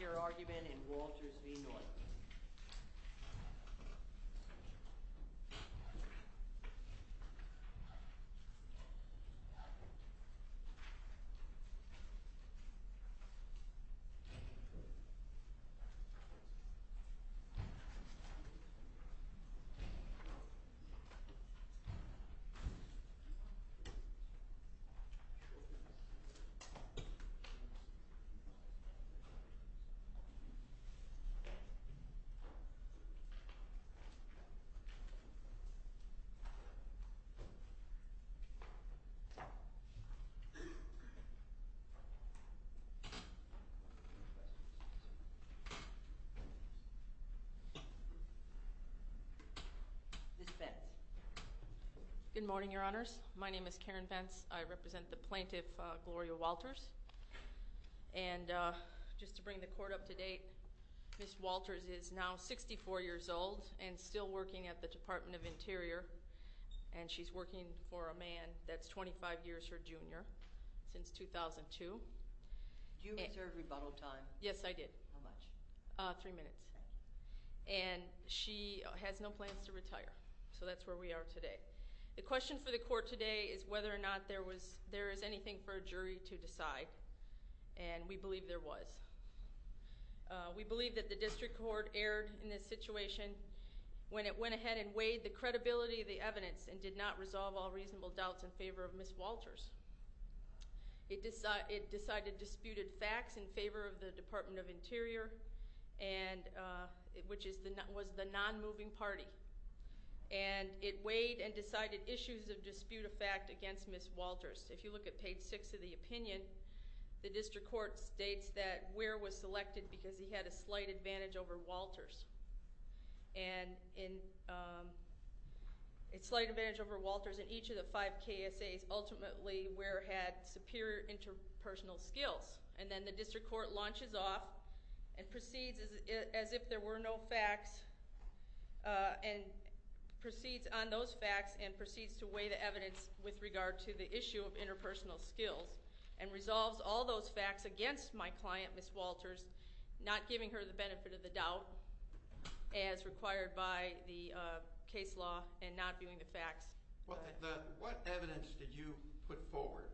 Your argument in Walters v. Norton Good morning, your honors. My name is Karen Vance. I represent the plaintiff Gloria Walters. And just to bring the court up to date, Ms. Walters is now 64 years old and still working at the Department of Interior. And she's working for a man that's 25 years her junior since 2002. Did you reserve rebuttal time? Yes, I did. How much? Three minutes. Okay. And she has no plans to retire. So that's where we are today. The question for the court today is whether or not there is anything for a jury to decide. And we believe there was. We believe that the district court erred in this situation when it went ahead and weighed the credibility of the evidence and did not resolve all reasonable doubts in favor of Ms. Walters. It decided disputed facts in favor of the Department of Interior, which was the non-moving party. And it weighed and decided issues of disputed fact against Ms. Walters. If you look at page 6 of the opinion, the district court states that Ware was selected because he had a slight advantage over Walters. And a slight advantage over Walters in each of the five KSAs, ultimately Ware had superior interpersonal skills. And then the district court launches off and proceeds as if there were no facts and proceeds on those facts and proceeds to weigh the evidence with regard to the issue of interpersonal skills and resolves all those facts against my client, Ms. Walters, not giving her the benefit of the doubt as required by the case law and not viewing the facts. What evidence did you put forward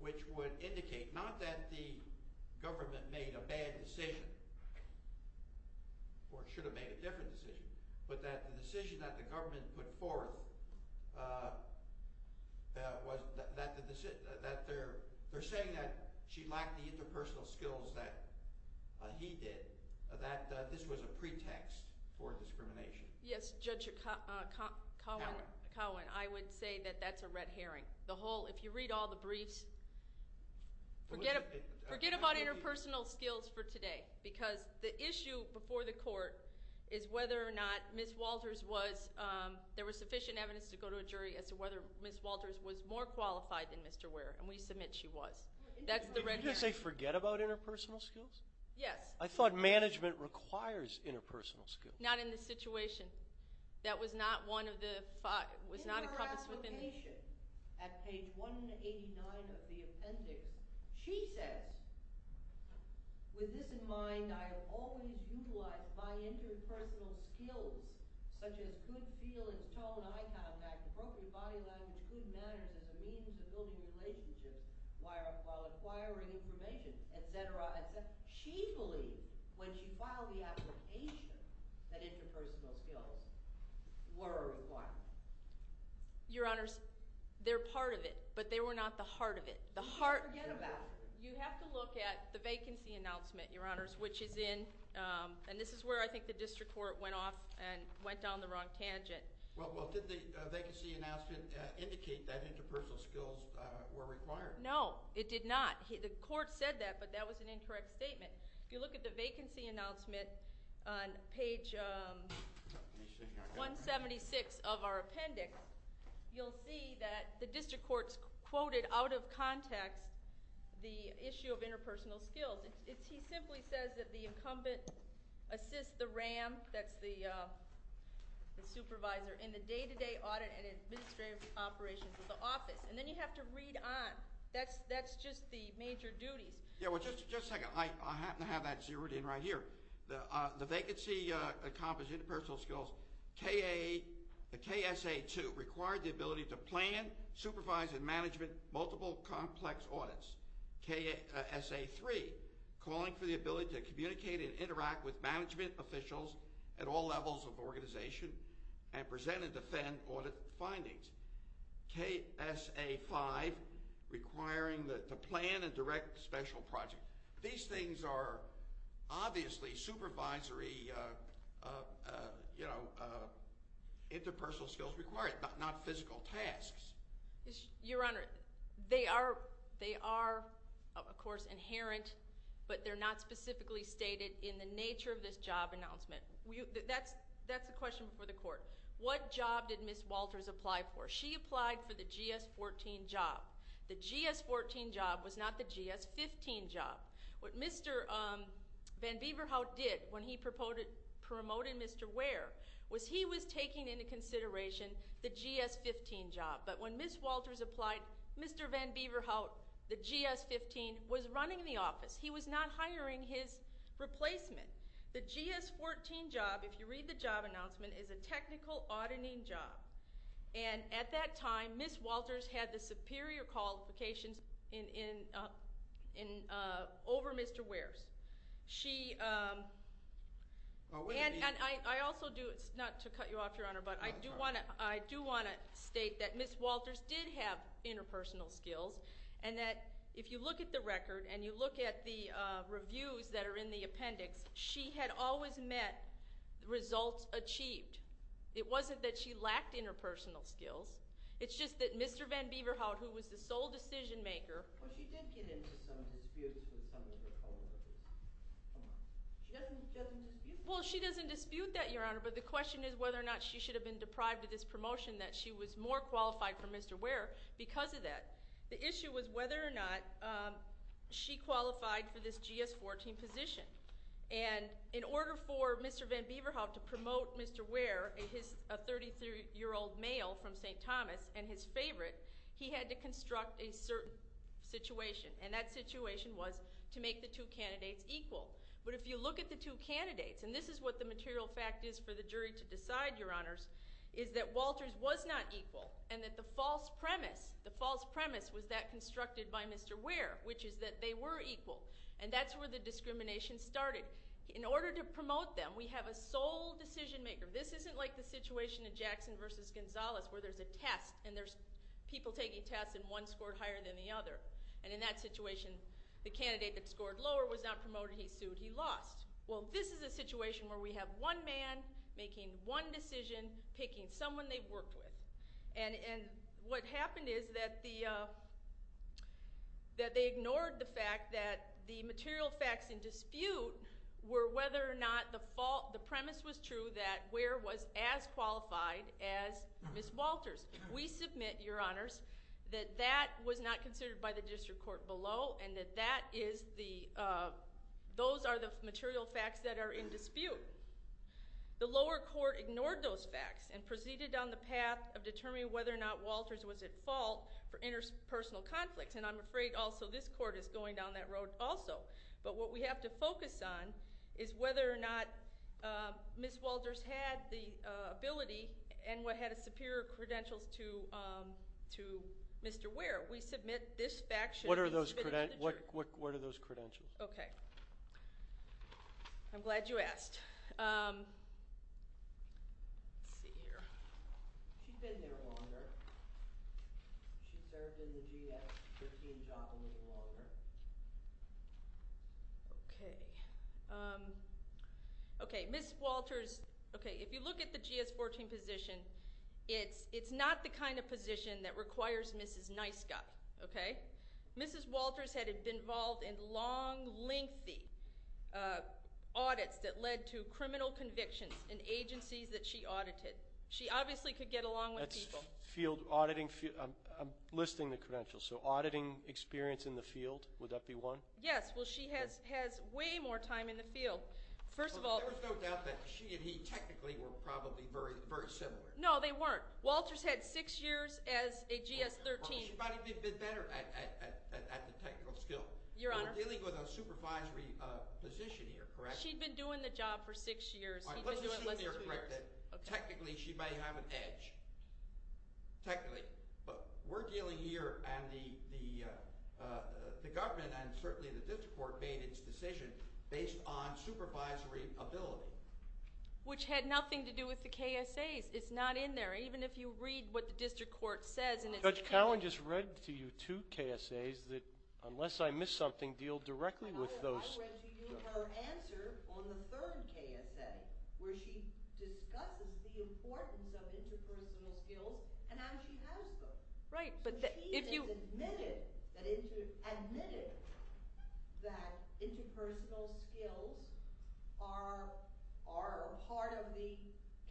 which would indicate not that the government made a bad decision or should have made a different decision, but that the decision that the government put forth that they're saying that she lacked the interpersonal skills that he did, that this was a pretext for discrimination? Yes, Judge Cohen, I would say that that's a red herring. The whole – if you read all the briefs, forget about interpersonal skills for today because the issue before the court is whether or not Ms. Walters was – there was sufficient evidence to go to a jury as to whether Ms. Walters was more qualified than Mr. Ware. And we submit she was. That's the red herring. Did you just say forget about interpersonal skills? Yes. I thought management requires interpersonal skills. Not in this situation. That was not one of the – was not encompassed within the – In her application at page 189 of the appendix, she says, with this in mind, I have always utilized my interpersonal skills, such as good feelings, tone, eye contact, appropriate body language, good manners as a means of building relationships while acquiring information, et cetera, et cetera. She believed when she filed the application that interpersonal skills were a requirement. Your Honors, they're part of it, but they were not the heart of it. The heart – Forget about it. You have to look at the vacancy announcement, Your Honors, which is in – and this is where I think the district court went off and went down the wrong tangent. Well, did the vacancy announcement indicate that interpersonal skills were required? No, it did not. The court said that, but that was an incorrect statement. If you look at the vacancy announcement on page 176 of our appendix, you'll see that the district court quoted out of context the issue of interpersonal skills. He simply says that the incumbent assists the RAM, that's the supervisor, in the day-to-day audit and administrative operations of the office. And then you have to read on. That's just the major duties. Yeah, well, just a second. I happen to have that zeroed in right here. The vacancy accomplished interpersonal skills, KSA 2, required the ability to plan, supervise, and management multiple complex audits. KSA 3, calling for the ability to communicate and interact with management officials at all levels of organization and present and defend audit findings. KSA 5, requiring the plan and direct special project. These things are obviously supervisory, you know, interpersonal skills required, not physical tasks. Your Honor, they are, of course, inherent, but they're not specifically stated in the nature of this job announcement. That's a question for the court. What job did Ms. Walters apply for? She applied for the GS-14 job. The GS-14 job was not the GS-15 job. What Mr. Van Beeverhout did when he promoted Mr. Ware was he was taking into consideration the GS-15 job. But when Ms. Walters applied, Mr. Van Beeverhout, the GS-15, was running the office. He was not hiring his replacement. The GS-14 job, if you read the job announcement, is a technical auditing job. And at that time, Ms. Walters had the superior qualifications over Mr. Ware's. She, and I also do, not to cut you off, Your Honor, but I do want to state that Ms. Walters did have interpersonal skills and that if you look at the record and you look at the reviews that are in the appendix, she had always met results achieved. It wasn't that she lacked interpersonal skills. It's just that Mr. Van Beeverhout, who was the sole decision-makeró Well, she did get into some disputes with some of her fellow workers. She doesn't dispute that. Well, she doesn't dispute that, Your Honor, but the question is whether or not she should have been deprived of this promotion that she was more qualified for Mr. Ware because of that. The issue was whether or not she qualified for this GS-14 position. And in order for Mr. Van Beeverhout to promote Mr. Ware, a 33-year-old male from St. Thomas, and his favorite, he had to construct a certain situation, and that situation was to make the two candidates equal. But if you look at the two candidatesó and this is what the material fact is for the jury to decide, Your Honorsó is that Walters was not equal and that the false premiseó the false premise was that constructed by Mr. Ware, which is that they were equal. And that's where the discrimination started. In order to promote them, we have a sole decision-maker. This isn't like the situation in Jackson v. Gonzalez where there's a test and there's people taking tests and one scored higher than the other. And in that situation, the candidate that scored lower was not promoted. He sued. He lost. Well, this is a situation where we have one man making one decision, picking someone they've worked with. And what happened is that they ignored the fact that the material facts in dispute were whether or not the premise was true that Ware was as qualified as Ms. Walters. We submit, Your Honors, that that was not considered by the district court below and that those are the material facts that are in dispute. The lower court ignored those facts and proceeded on the path of determining whether or not Walters was at fault for interpersonal conflicts. And I'm afraid also this court is going down that road also. But what we have to focus on is whether or not Ms. Walters had the ability and had a superior credentials to Mr. Ware. We submit this fact should beó What are those credentials? Okay. I'm glad you asked. Let's see here. She'd been there longer. She'd served in the GS-13 job a little longer. Okay. Okay, Ms. WaltersóOkay, if you look at the GS-14 position, it's not the kind of position that requires Mrs. Nice Guy. Okay? Mrs. Walters had been involved in long, lengthy audits that led to criminal convictions in agencies that she audited. She obviously could get along with people. That's field auditingóI'm listing the credentials. So auditing experience in the field, would that be one? Yes. Well, she has way more time in the field. First of alló There was no doubt that she and he technically were probably very similar. No, they weren't. Walters had six years as a GS-13. She probably would have been better at the technical skill. Your Honoró We're dealing with a supervisory position here, correct? She'd been doing the job for six years. All right, let's assume you're correct that technically she might have an edge, technically. But we're dealing here, and the government and certainly the district court made its decision based on supervisory ability. Which had nothing to do with the KSAs. It's not in there. Even if you read what the district court saysó Judge Cowan just read to you two KSAs that, unless I missed something, deal directly with thoseó I read to you her answer on the third KSA, where she discusses the importance of interpersonal skills and how she has them. Right, but if youó She has admitted that interpersonal skills are a part of the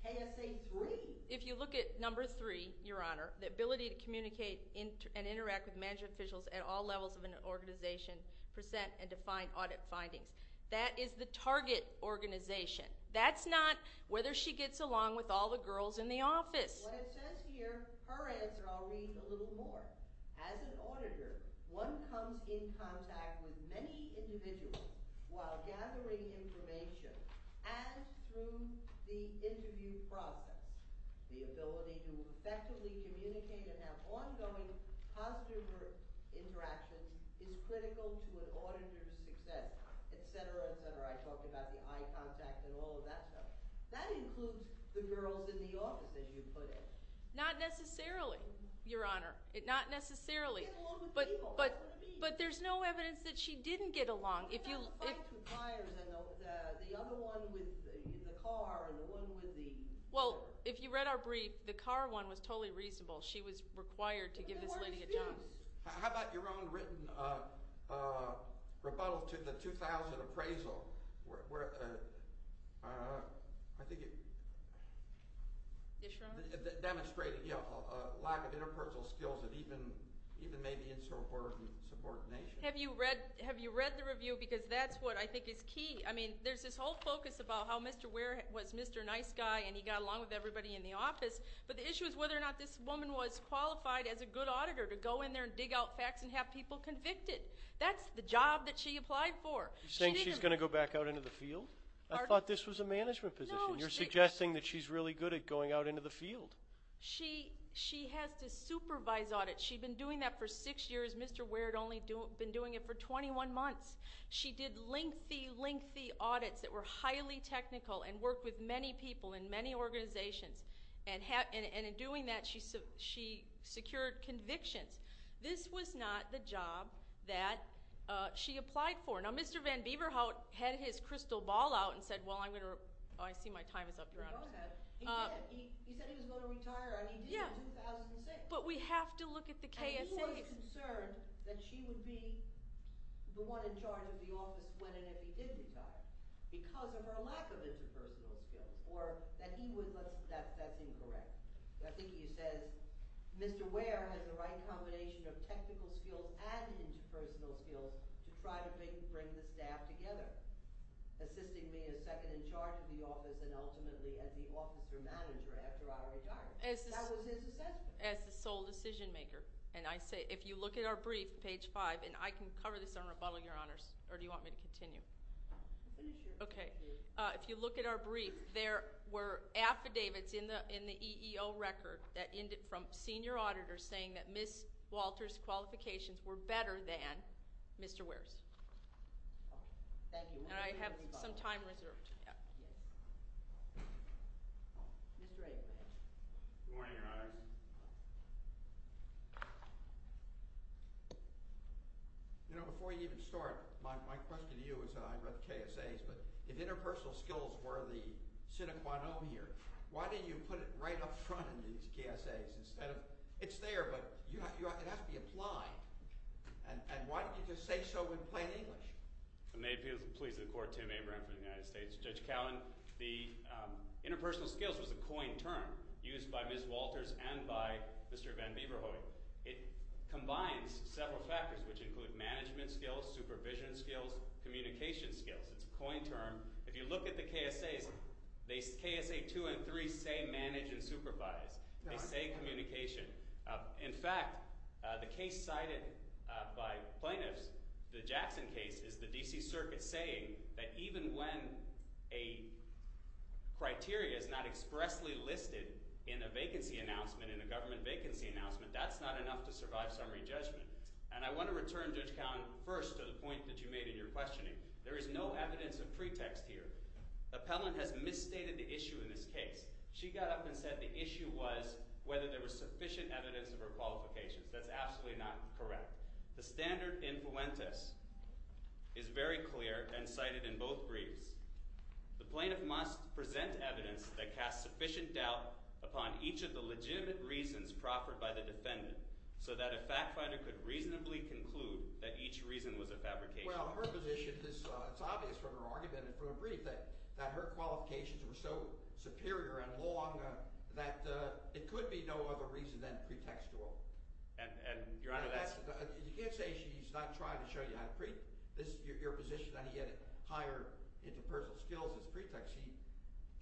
KSA 3. If you look at number 3, Your Honor, the ability to communicate and interact with management officials at all levels of an organization, present and define audit findings. That is the target organization. That's not whether she gets along with all the girls in the office. What it says hereóher answeróI'll read a little more. As an auditor, one comes in contact with many individuals while gathering information and through the interview process. The ability to effectively communicate and have ongoing positive interactions is critical to an auditor's success, etc., etc. I talked about the eye contact and all of that stuff. That includes the girls in the office, as you put it. Not necessarily, Your Honor. Not necessarily. But there's no evidence that she didn't get along. If youó The other one with the car and the one with theó Well, if you read our brief, the car one was totally reasonable. She was required to give this lady a job. How about your own written rebuttal to the 2000 appraisal? WhereóI think itó Yes, Your Honor? Demonstrated a lack of interpersonal skills that even maybe insubordinate subordination. Have you read the review? Because that's what I think is key. I mean, there's this whole focus about how Mr. Ware was Mr. Nice Guy and he got along with everybody in the office. But the issue is whether or not this woman was qualified as a good auditor to go in there and dig out facts and have people convicted. That's the job that she applied for. You're saying she's going to go back out into the field? I thought this was a management position. You're suggesting that she's really good at going out into the field. She has to supervise audits. She'd been doing that for six years. Mr. Ware had only been doing it for 21 months. She did lengthy, lengthy audits that were highly technical and worked with many people in many organizations. And in doing that, she secured convictions. This was not the job that she applied for. Now, Mr. Van Bieberhout had his crystal ball out and said, well, I'm going toóoh, I see my time is up, Your Honor. He said he was going to retire, and he did in 2006. But we have to look at the KSA. He was concerned that she would be the one in charge of the office when and if he did retire because of her lack of interpersonal skills or that he wouldóthat's incorrect. I think he says Mr. Ware has the right combination of technical skills and interpersonal skills to try to bring the staff together, assisting me as second in charge of the office and ultimately as the officer manager after I retire. That was his assessment. As the sole decision maker, and I sayóif you look at our brief, page 5, and I can cover this on rebuttal, Your Honors, or do you want me to continue? Are you sure? Okay. If you look at our brief, there were affidavits in the EEO record from senior auditors saying that Ms. Walters' qualifications were better than Mr. Ware's. Thank you. And I have some time reserved. Mr. Aikman. Good morning, Your Honors. Before you even start, my question to you isóI read the KSAsó but if interpersonal skills were the sine qua non here, why didn't you put it right up front in these KSAs instead ofó it's there, but it has to be applied, and why didn't you just say so in plain English? May it please the Court, Tim Abraham from the United States. Judge Cowen, the interpersonal skills was a coined term used by Ms. Walters and by Mr. Van Bieverhooy. It combines several factors, which include management skills, supervision skills, communication skills. It's a coined term. If you look at the KSAs, KSA 2 and 3 say manage and supervise. They say communication. In fact, the case cited by plaintiffs, the Jackson case, is the D.C. Circuit saying that even when a criteria is not expressly listed in a vacancy announcement, in a government vacancy announcement, that's not enough to survive summary judgment. And I want to return, Judge Cowen, first to the point that you made in your questioning. There is no evidence of pretext here. Appellant has misstated the issue in this case. She got up and said the issue was whether there was sufficient evidence of her qualifications. That's absolutely not correct. The standard influentis is very clear and cited in both briefs. The plaintiff must present evidence that casts sufficient doubt upon each of the legitimate reasons proffered by the defendant so that a fact finder could reasonably conclude that each reason was a fabrication. Well, her position is obvious from her argument and from her brief that her qualifications were so superior and long that it could be no other reason than pretextual. Your Honor, that's – You can't say she's not trying to show you how to – this is your position that he had higher interpersonal skills as pretext.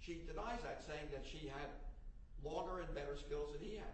She denies that, saying that she had longer and better skills than he had.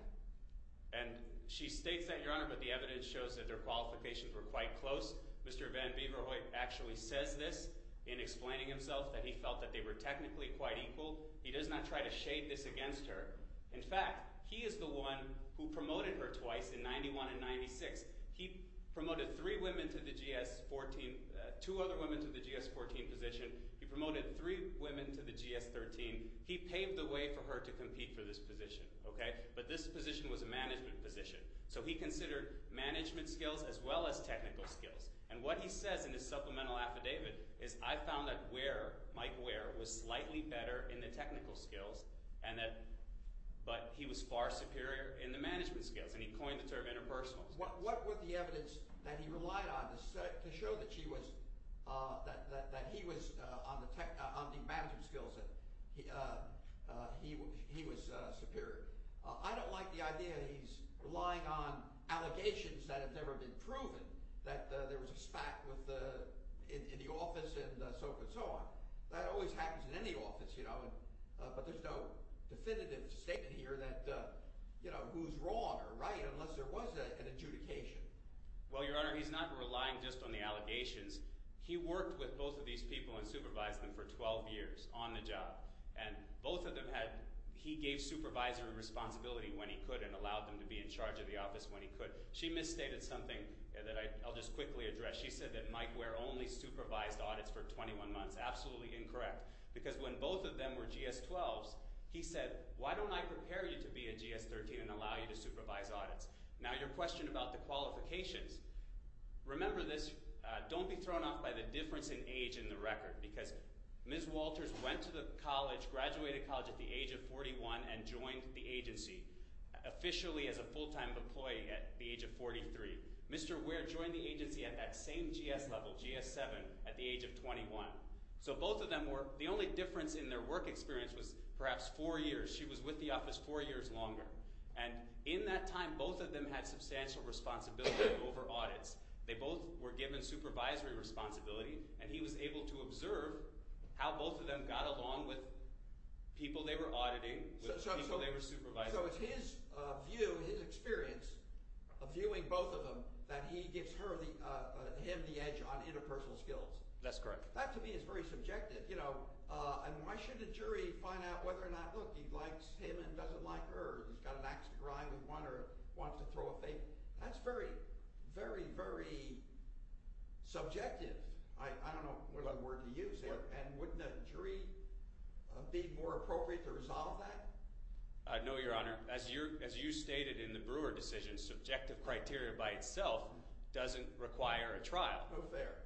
And she states that, Your Honor, but the evidence shows that their qualifications were quite close. Mr. Van Beever Hoyt actually says this in explaining himself that he felt that they were technically quite equal. He does not try to shade this against her. In fact, he is the one who promoted her twice in 91 and 96. He promoted three women to the GS-14 – two other women to the GS-14 position. He promoted three women to the GS-13. He paved the way for her to compete for this position, okay? But this position was a management position, so he considered management skills as well as technical skills. And what he says in his supplemental affidavit is, I found that Ware, Mike Ware, was slightly better in the technical skills and that – but he was far superior in the management skills, and he coined the term interpersonal skills. What were the evidence that he relied on to show that she was – that he was on the management skills, that he was superior? I don't like the idea that he's relying on allegations that have never been proven, that there was a spat with – in the office and so forth and so on. That always happens in any office, you know, but there's no definitive statement here that, you know, who's wrong or right unless there was an adjudication. Well, Your Honor, he's not relying just on the allegations. He worked with both of these people and supervised them for 12 years on the job, and both of them had – he gave supervisory responsibility when he could and allowed them to be in charge of the office when he could. She misstated something that I'll just quickly address. She said that Mike Ware only supervised audits for 21 months. That's absolutely incorrect because when both of them were GS-12s, he said, why don't I prepare you to be a GS-13 and allow you to supervise audits? Now, your question about the qualifications, remember this. Don't be thrown off by the difference in age in the record because Ms. Walters went to the college, graduated college at the age of 41 and joined the agency officially as a full-time employee at the age of 43. Mr. Ware joined the agency at that same GS level, GS-7, at the age of 21. So both of them were – the only difference in their work experience was perhaps four years. She was with the office four years longer. And in that time, both of them had substantial responsibility over audits. They both were given supervisory responsibility, and he was able to observe how both of them got along with people they were auditing, with people they were supervising. So it's his view, his experience of viewing both of them that he gives her the – him the edge on interpersonal skills. That's correct. That, to me, is very subjective. Why shouldn't a jury find out whether or not, look, he likes him and doesn't like her or he's got an axe to grind with one or wants to throw a fable? That's very, very, very subjective. I don't know what other word to use here. And wouldn't a jury be more appropriate to resolve that? No, Your Honor. As you stated in the Brewer decision, subjective criteria by itself doesn't require a trial. Oh, fair.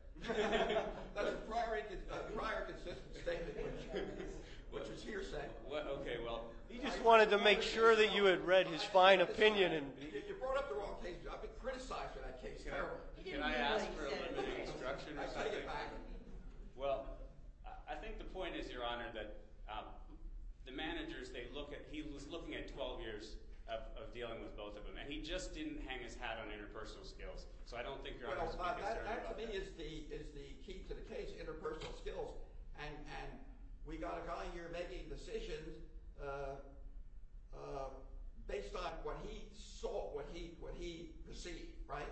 That's a prior consistent statement which was hearsay. Okay, well – He just wanted to make sure that you had read his fine opinion. You brought up the wrong case. I've been criticized for that case terribly. Can I ask for a little bit of instruction? I take it back. Well, I think the point is, Your Honor, that the managers, they look at – he was looking at 12 years of dealing with both of them, and he just didn't hang his hat on interpersonal skills. So I don't think Your Honor should be concerned about that. Well, that, to me, is the key to the case, interpersonal skills. And we got a guy here making decisions based on what he saw, what he perceived, right?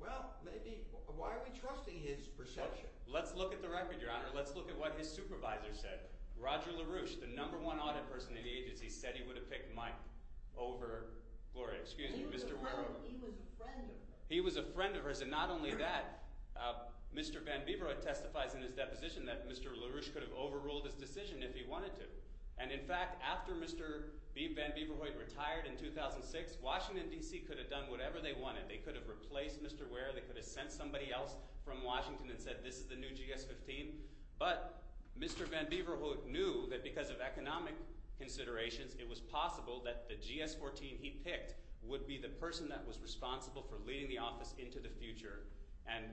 Well, maybe – why are we trusting his perception? Let's look at the record, Your Honor. Let's look at what his supervisor said. Roger LaRouche, the number one audit person in the agency, said he would have picked Mike over Gloria. Excuse me, Mr. LaRouche. He was a friend of hers. He was a friend of hers, and not only that. Mr. Van Bieverhoit testifies in his deposition that Mr. LaRouche could have overruled his decision if he wanted to. And, in fact, after Mr. Van Bieverhoit retired in 2006, Washington, D.C. could have done whatever they wanted. They could have replaced Mr. Ware. They could have sent somebody else from Washington and said this is the new GS-15. But Mr. Van Bieverhoit knew that because of economic considerations, it was possible that the GS-14 he picked would be the person that was responsible for leading the office into the future and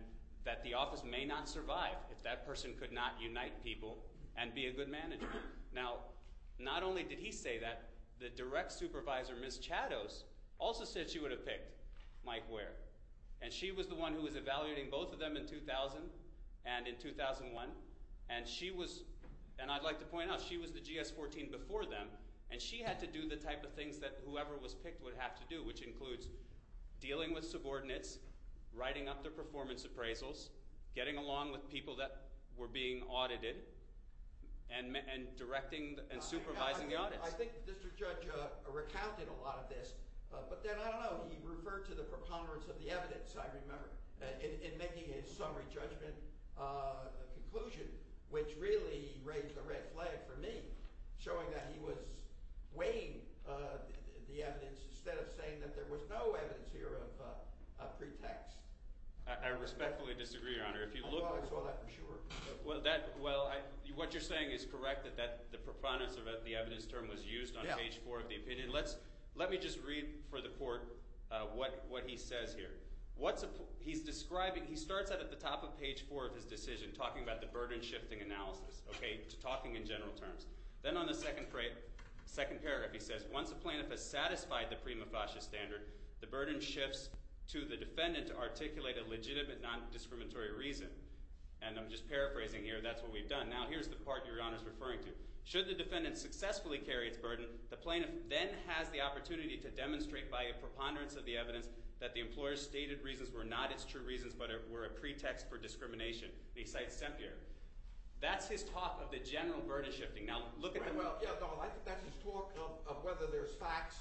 that the office may not survive if that person could not unite people and be a good manager. Now, not only did he say that, the direct supervisor, Ms. Chados, also said she would have picked Mike Ware. And she was the one who was evaluating both of them in 2000 and in 2001, and she was – and I'd like to point out, she was the GS-14 before them, and she had to do the type of things that whoever was picked would have to do, which includes dealing with subordinates, writing up their performance appraisals, getting along with people that were being audited, and directing and supervising the audits. I think the district judge recounted a lot of this. But then, I don't know, he referred to the preponderance of the evidence, I remember, in making his summary judgment conclusion, which really raised a red flag for me, showing that he was weighing the evidence instead of saying that there was no evidence here of pretext. I respectfully disagree, Your Honor. I saw that for sure. Well, what you're saying is correct, that the preponderance of the evidence term was used on page 4 of the opinion. Let me just read for the court what he says here. He's describing – he starts out at the top of page 4 of his decision talking about the burden-shifting analysis, talking in general terms. Then on the second paragraph he says, once the plaintiff has satisfied the prima facie standard, the burden shifts to the defendant to articulate a legitimate non-discriminatory reason. And I'm just paraphrasing here. That's what we've done. Now here's the part Your Honor is referring to. Should the defendant successfully carry its burden, the plaintiff then has the opportunity to demonstrate by a preponderance of the evidence that the employer's stated reasons were not its true reasons but were a pretext for discrimination. He cites Stempier. That's his talk of the general burden-shifting. I think that's his talk of whether there's facts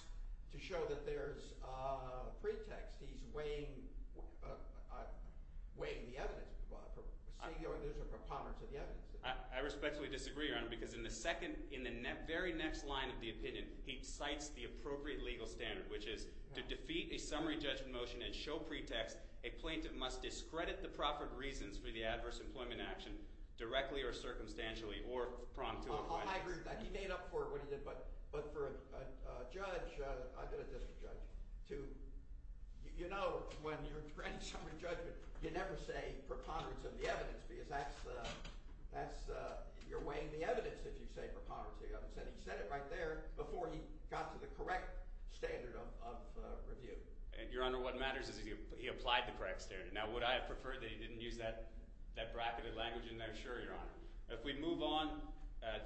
to show that there's a pretext. He's weighing the evidence. There's a preponderance of the evidence. I respectfully disagree, Your Honor, because in the second – in the very next line of the opinion, he cites the appropriate legal standard, which is to defeat a summary judgment motion and show pretext a plaintiff must discredit the proper reasons for the adverse employment action directly or circumstantially I agree with that. He made up for it when he did. But for a judge – I've been a district judge. To – you know when you're granting summary judgment, you never say preponderance of the evidence because that's – you're weighing the evidence if you say preponderance of the evidence. And he said it right there before he got to the correct standard of review. Your Honor, what matters is he applied the correct standard. Now would I have preferred that he didn't use that bracketed language in there? Sure, Your Honor. If we move on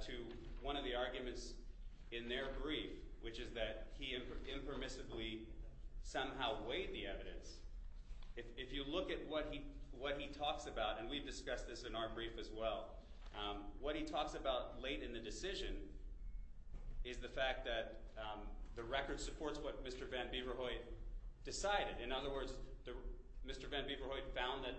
to one of the arguments in their brief, which is that he impermissibly somehow weighed the evidence, if you look at what he talks about – and we've discussed this in our brief as well – what he talks about late in the decision is the fact that the record supports what Mr. van Beverhooy decided. In other words, Mr. van Beverhooy found that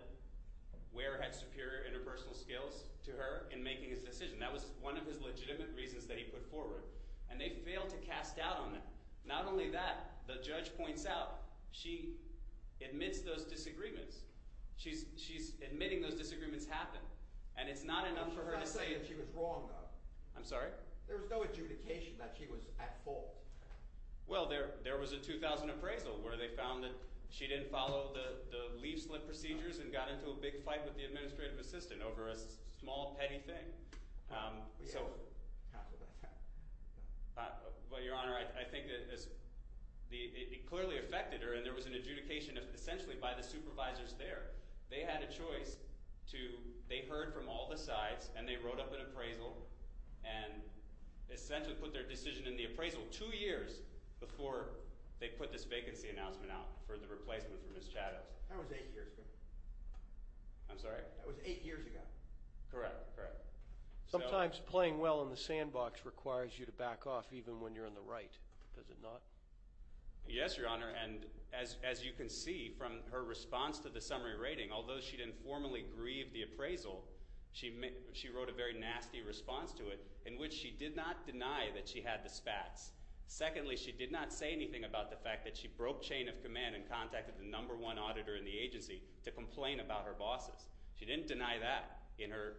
Ware had superior interpersonal skills to her in making his decision. That was one of his legitimate reasons that he put forward. And they failed to cast doubt on that. Not only that, the judge points out she admits those disagreements. She's admitting those disagreements happened, and it's not enough for her to say – I'm not saying that she was wrong though. I'm sorry? There was no adjudication that she was at fault. Well, there was a 2000 appraisal where they found that she didn't follow the leaf-slip procedures and got into a big fight with the administrative assistant over a small, petty thing. So – well, Your Honor, I think it clearly affected her, and there was an adjudication essentially by the supervisors there. They had a choice to – they heard from all the sides, and they wrote up an appraisal and essentially put their decision in the appraisal two years before they put this vacancy announcement out for the replacement for Ms. Chados. That was eight years ago. I'm sorry? That was eight years ago. Correct, correct. Sometimes playing well in the sandbox requires you to back off even when you're in the right. Does it not? Yes, Your Honor, and as you can see from her response to the summary rating, although she didn't formally grieve the appraisal, she wrote a very nasty response to it in which she did not deny that she had the SPATs. Secondly, she did not say anything about the fact that she broke chain of command and contacted the number one auditor in the agency to complain about her bosses. She didn't deny that in her,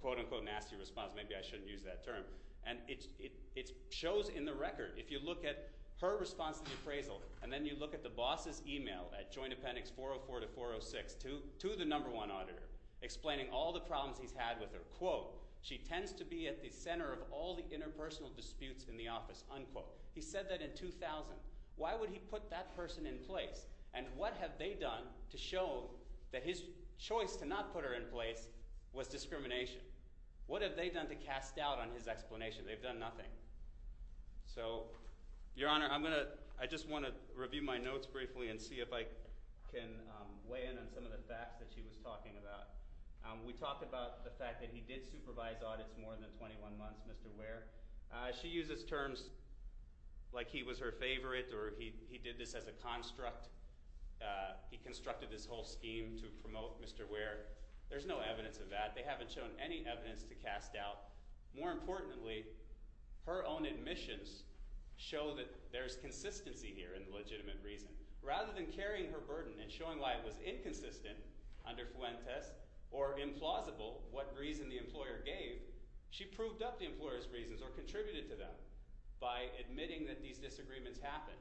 quote-unquote, nasty response. Maybe I shouldn't use that term. And it shows in the record. If you look at her response to the appraisal, and then you look at the boss's email at Joint Appendix 404 to 406 to the number one auditor explaining all the problems he's had with her, quote, she tends to be at the center of all the interpersonal disputes in the office, unquote. He said that in 2000. Why would he put that person in place? And what have they done to show that his choice to not put her in place was discrimination? What have they done to cast doubt on his explanation? They've done nothing. So, Your Honor, I just want to review my notes briefly and see if I can weigh in on some of the facts that she was talking about. We talked about the fact that he did supervise audits more than 21 months, Mr. Ware. She uses terms like he was her favorite or he did this as a construct. He constructed this whole scheme to promote Mr. Ware. There's no evidence of that. They haven't shown any evidence to cast doubt. More importantly, her own admissions show that there's consistency here in the legitimate reason. Rather than carrying her burden and showing why it was inconsistent under Fuentes or implausible what reason the employer gave, she proved up the employer's reasons or contributed to them by admitting that these disagreements happened.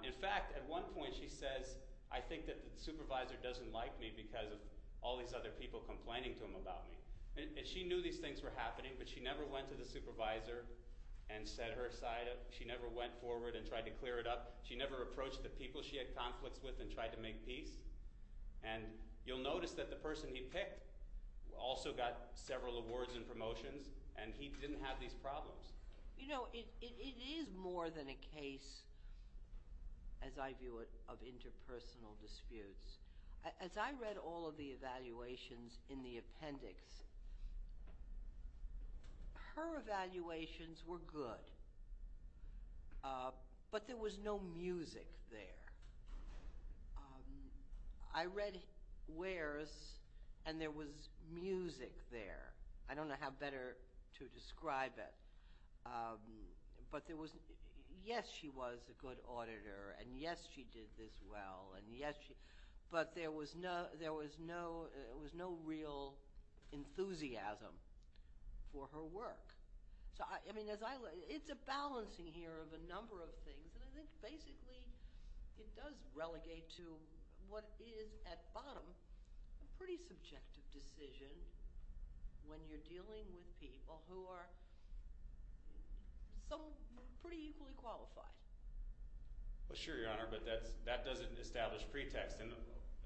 In fact, at one point she says, I think that the supervisor doesn't like me because of all these other people complaining to him about me. And she knew these things were happening, but she never went to the supervisor and set her aside. She never went forward and tried to clear it up. She never approached the people she had conflicts with and tried to make peace. And you'll notice that the person he picked also got several awards and promotions, and he didn't have these problems. You know, it is more than a case, as I view it, of interpersonal disputes. As I read all of the evaluations in the appendix, her evaluations were good, but there was no music there. I read Ware's, and there was music there. I don't know how better to describe it. But there was—yes, she was a good auditor, and yes, she did this well, but there was no real enthusiasm for her work. So, I mean, it's a balancing here of a number of things, and I think basically it does relegate to what is at bottom a pretty subjective decision when you're dealing with people who are pretty equally qualified. Well, sure, Your Honor, but that doesn't establish pretext. And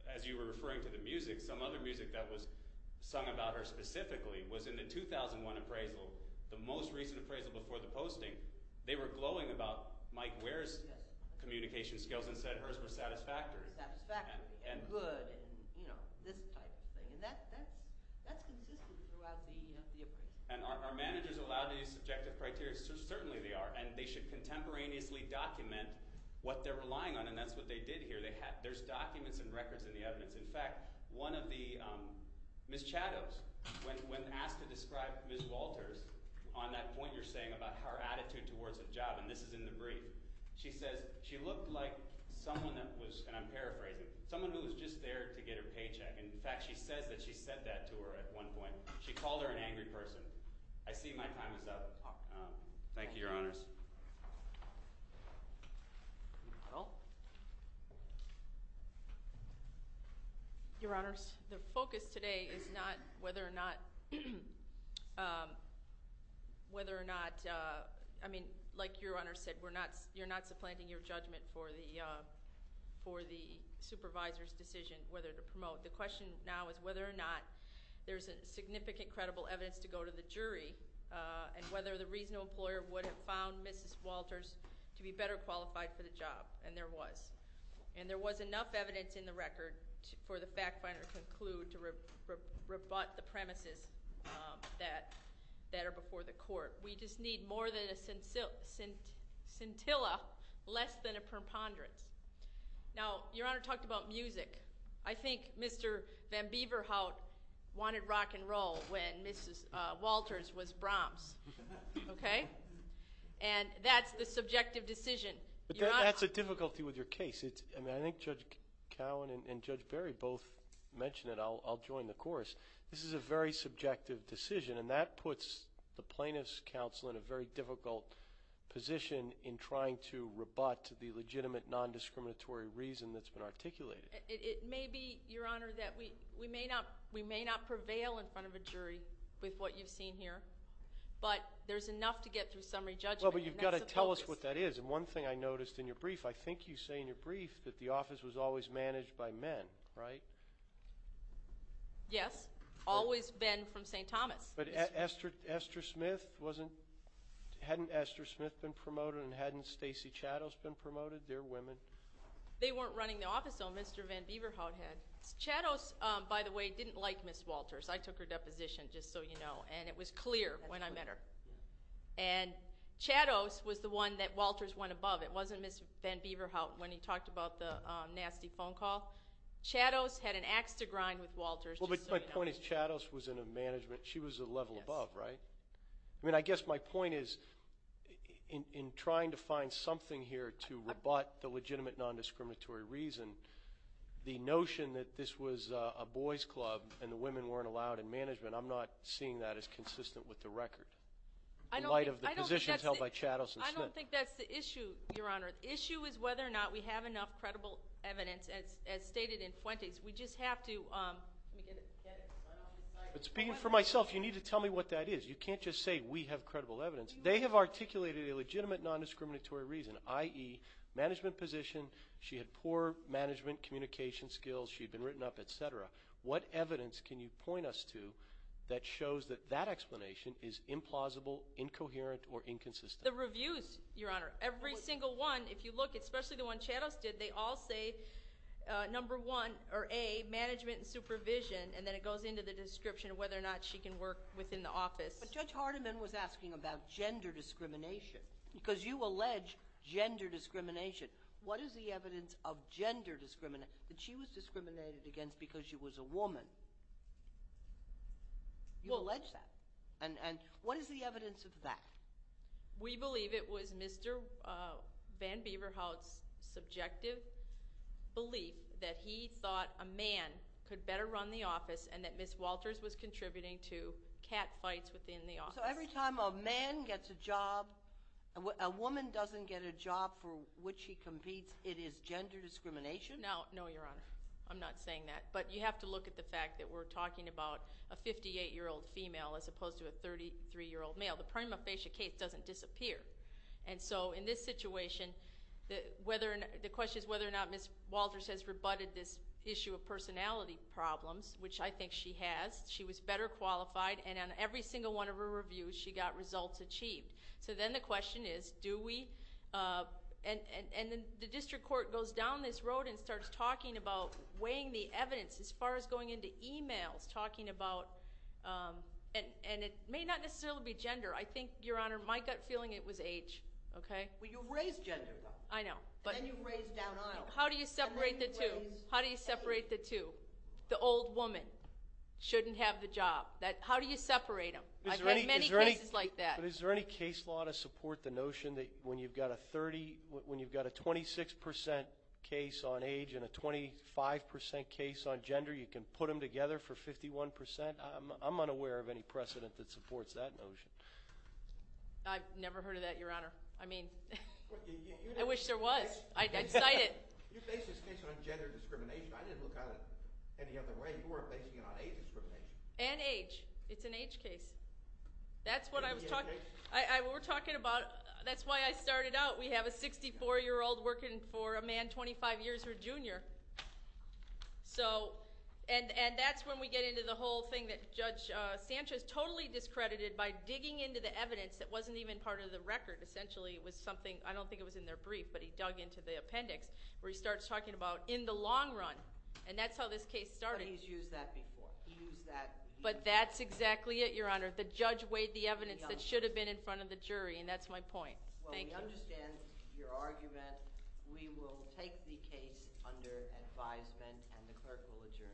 as you were referring to the music, some other music that was sung about her specifically was in the 2001 appraisal, the most recent appraisal before the posting. They were glowing about Mike Ware's communication skills and said hers were satisfactory. Satisfactory and good and, you know, this type of thing. And that's consistent throughout the appraisal. And are managers allowed to use subjective criteria? Certainly they are. And they should contemporaneously document what they're relying on, and that's what they did here. There's documents and records in the evidence. In fact, one of the—Ms. Chados, when asked to describe Ms. Walters on that point you're saying about her attitude towards the job, and this is in the brief, she says she looked like someone that was— and I'm paraphrasing—someone who was just there to get her paycheck. In fact, she says that she said that to her at one point. She called her an angry person. I see my time is up. Thank you, Your Honors. Your Honors, the focus today is not whether or not—whether or not—I mean, like Your Honors said, you're not supplanting your judgment for the supervisor's decision whether to promote. The question now is whether or not there's significant credible evidence to go to the jury and whether the reasonable employer would have found Mrs. Walters to be better qualified for the job, and there was. And there was enough evidence in the record for the fact finder to conclude to rebut the premises that are before the court. We just need more than a scintilla, less than a preponderance. Now, Your Honor talked about music. I think Mr. Van Beeverhout wanted rock and roll when Mrs. Walters was Brahms. Okay? And that's the subjective decision. But that's a difficulty with your case. I mean, I think Judge Cowan and Judge Berry both mentioned it. I'll join the chorus. This is a very subjective decision, and that puts the plaintiff's counsel in a very difficult position in trying to rebut the legitimate non-discriminatory reason that's been articulated. It may be, Your Honor, that we may not prevail in front of a jury with what you've seen here, but there's enough to get through summary judgment. Well, but you've got to tell us what that is, and one thing I noticed in your brief, I think you say in your brief that the office was always managed by men, right? Yes. Always been from St. Thomas. But Esther Smith wasn't? Hadn't Esther Smith been promoted and hadn't Stacey Chados been promoted? They're women. They weren't running the office, though, Mr. Van Beeverhout had. Chados, by the way, didn't like Ms. Walters. I took her deposition, just so you know, and it was clear when I met her. And Chados was the one that Walters went above. It wasn't Ms. Van Beeverhout when he talked about the nasty phone call. Chados had an ax to grind with Walters, just so you know. I guess my point is Chados was in a management. She was a level above, right? I mean, I guess my point is in trying to find something here to rebut the legitimate nondiscriminatory reason, the notion that this was a boys club and the women weren't allowed in management, I'm not seeing that as consistent with the record, in light of the positions held by Chados and Smith. I don't think that's the issue, Your Honor. The issue is whether or not we have enough credible evidence, as stated in Fuentes. We just have to get it. But speaking for myself, you need to tell me what that is. You can't just say we have credible evidence. They have articulated a legitimate nondiscriminatory reason, i.e., management position, she had poor management communication skills, she had been written up, et cetera. What evidence can you point us to that shows that that explanation is implausible, incoherent, or inconsistent? The reviews, Your Honor. Every single one, if you look, especially the one Chados did, they all say number one, or A, management and supervision, and then it goes into the description of whether or not she can work within the office. But Judge Hardiman was asking about gender discrimination because you allege gender discrimination. What is the evidence of gender discrimination that she was discriminated against because she was a woman? You allege that. And what is the evidence of that? We believe it was Mr. Van Beeverhout's subjective belief that he thought a man could better run the office and that Ms. Walters was contributing to catfights within the office. So every time a man gets a job, a woman doesn't get a job for which she competes, it is gender discrimination? No, Your Honor. I'm not saying that. But you have to look at the fact that we're talking about a 58-year-old female as opposed to a 33-year-old male. The prima facie case doesn't disappear. And so in this situation, the question is whether or not Ms. Walters has rebutted this issue of personality problems, which I think she has. She was better qualified, and on every single one of her reviews, she got results achieved. So then the question is, do we? And the district court goes down this road and starts talking about weighing the evidence as far as going into e-mails talking about, and it may not necessarily be gender. I think, Your Honor, my gut feeling it was age, okay? Well, you raised gender, though. I know. And then you raised downhill. How do you separate the two? How do you separate the two? The old woman shouldn't have the job. How do you separate them? I've had many cases like that. But is there any case law to support the notion that when you've got a 36% case on age and a 25% case on gender, you can put them together for 51%? I'm unaware of any precedent that supports that notion. I've never heard of that, Your Honor. I mean, I wish there was. I'd cite it. You base this case on gender discrimination. I didn't look at it any other way. You were basing it on age discrimination. And age. It's an age case. That's what I was talking about. That's why I started out. We have a 64-year-old working for a man 25 years her junior. And that's when we get into the whole thing that Judge Sanchez totally discredited by digging into the evidence that wasn't even part of the record, essentially. It was something, I don't think it was in their brief, but he dug into the appendix, where he starts talking about in the long run, and that's how this case started. But he's used that before. He used that. But that's exactly it, Your Honor. The judge weighed the evidence that should have been in front of the jury, and that's my point. Thank you. Well, we understand your argument. We will take the case under advisement, and the clerk will adjourn.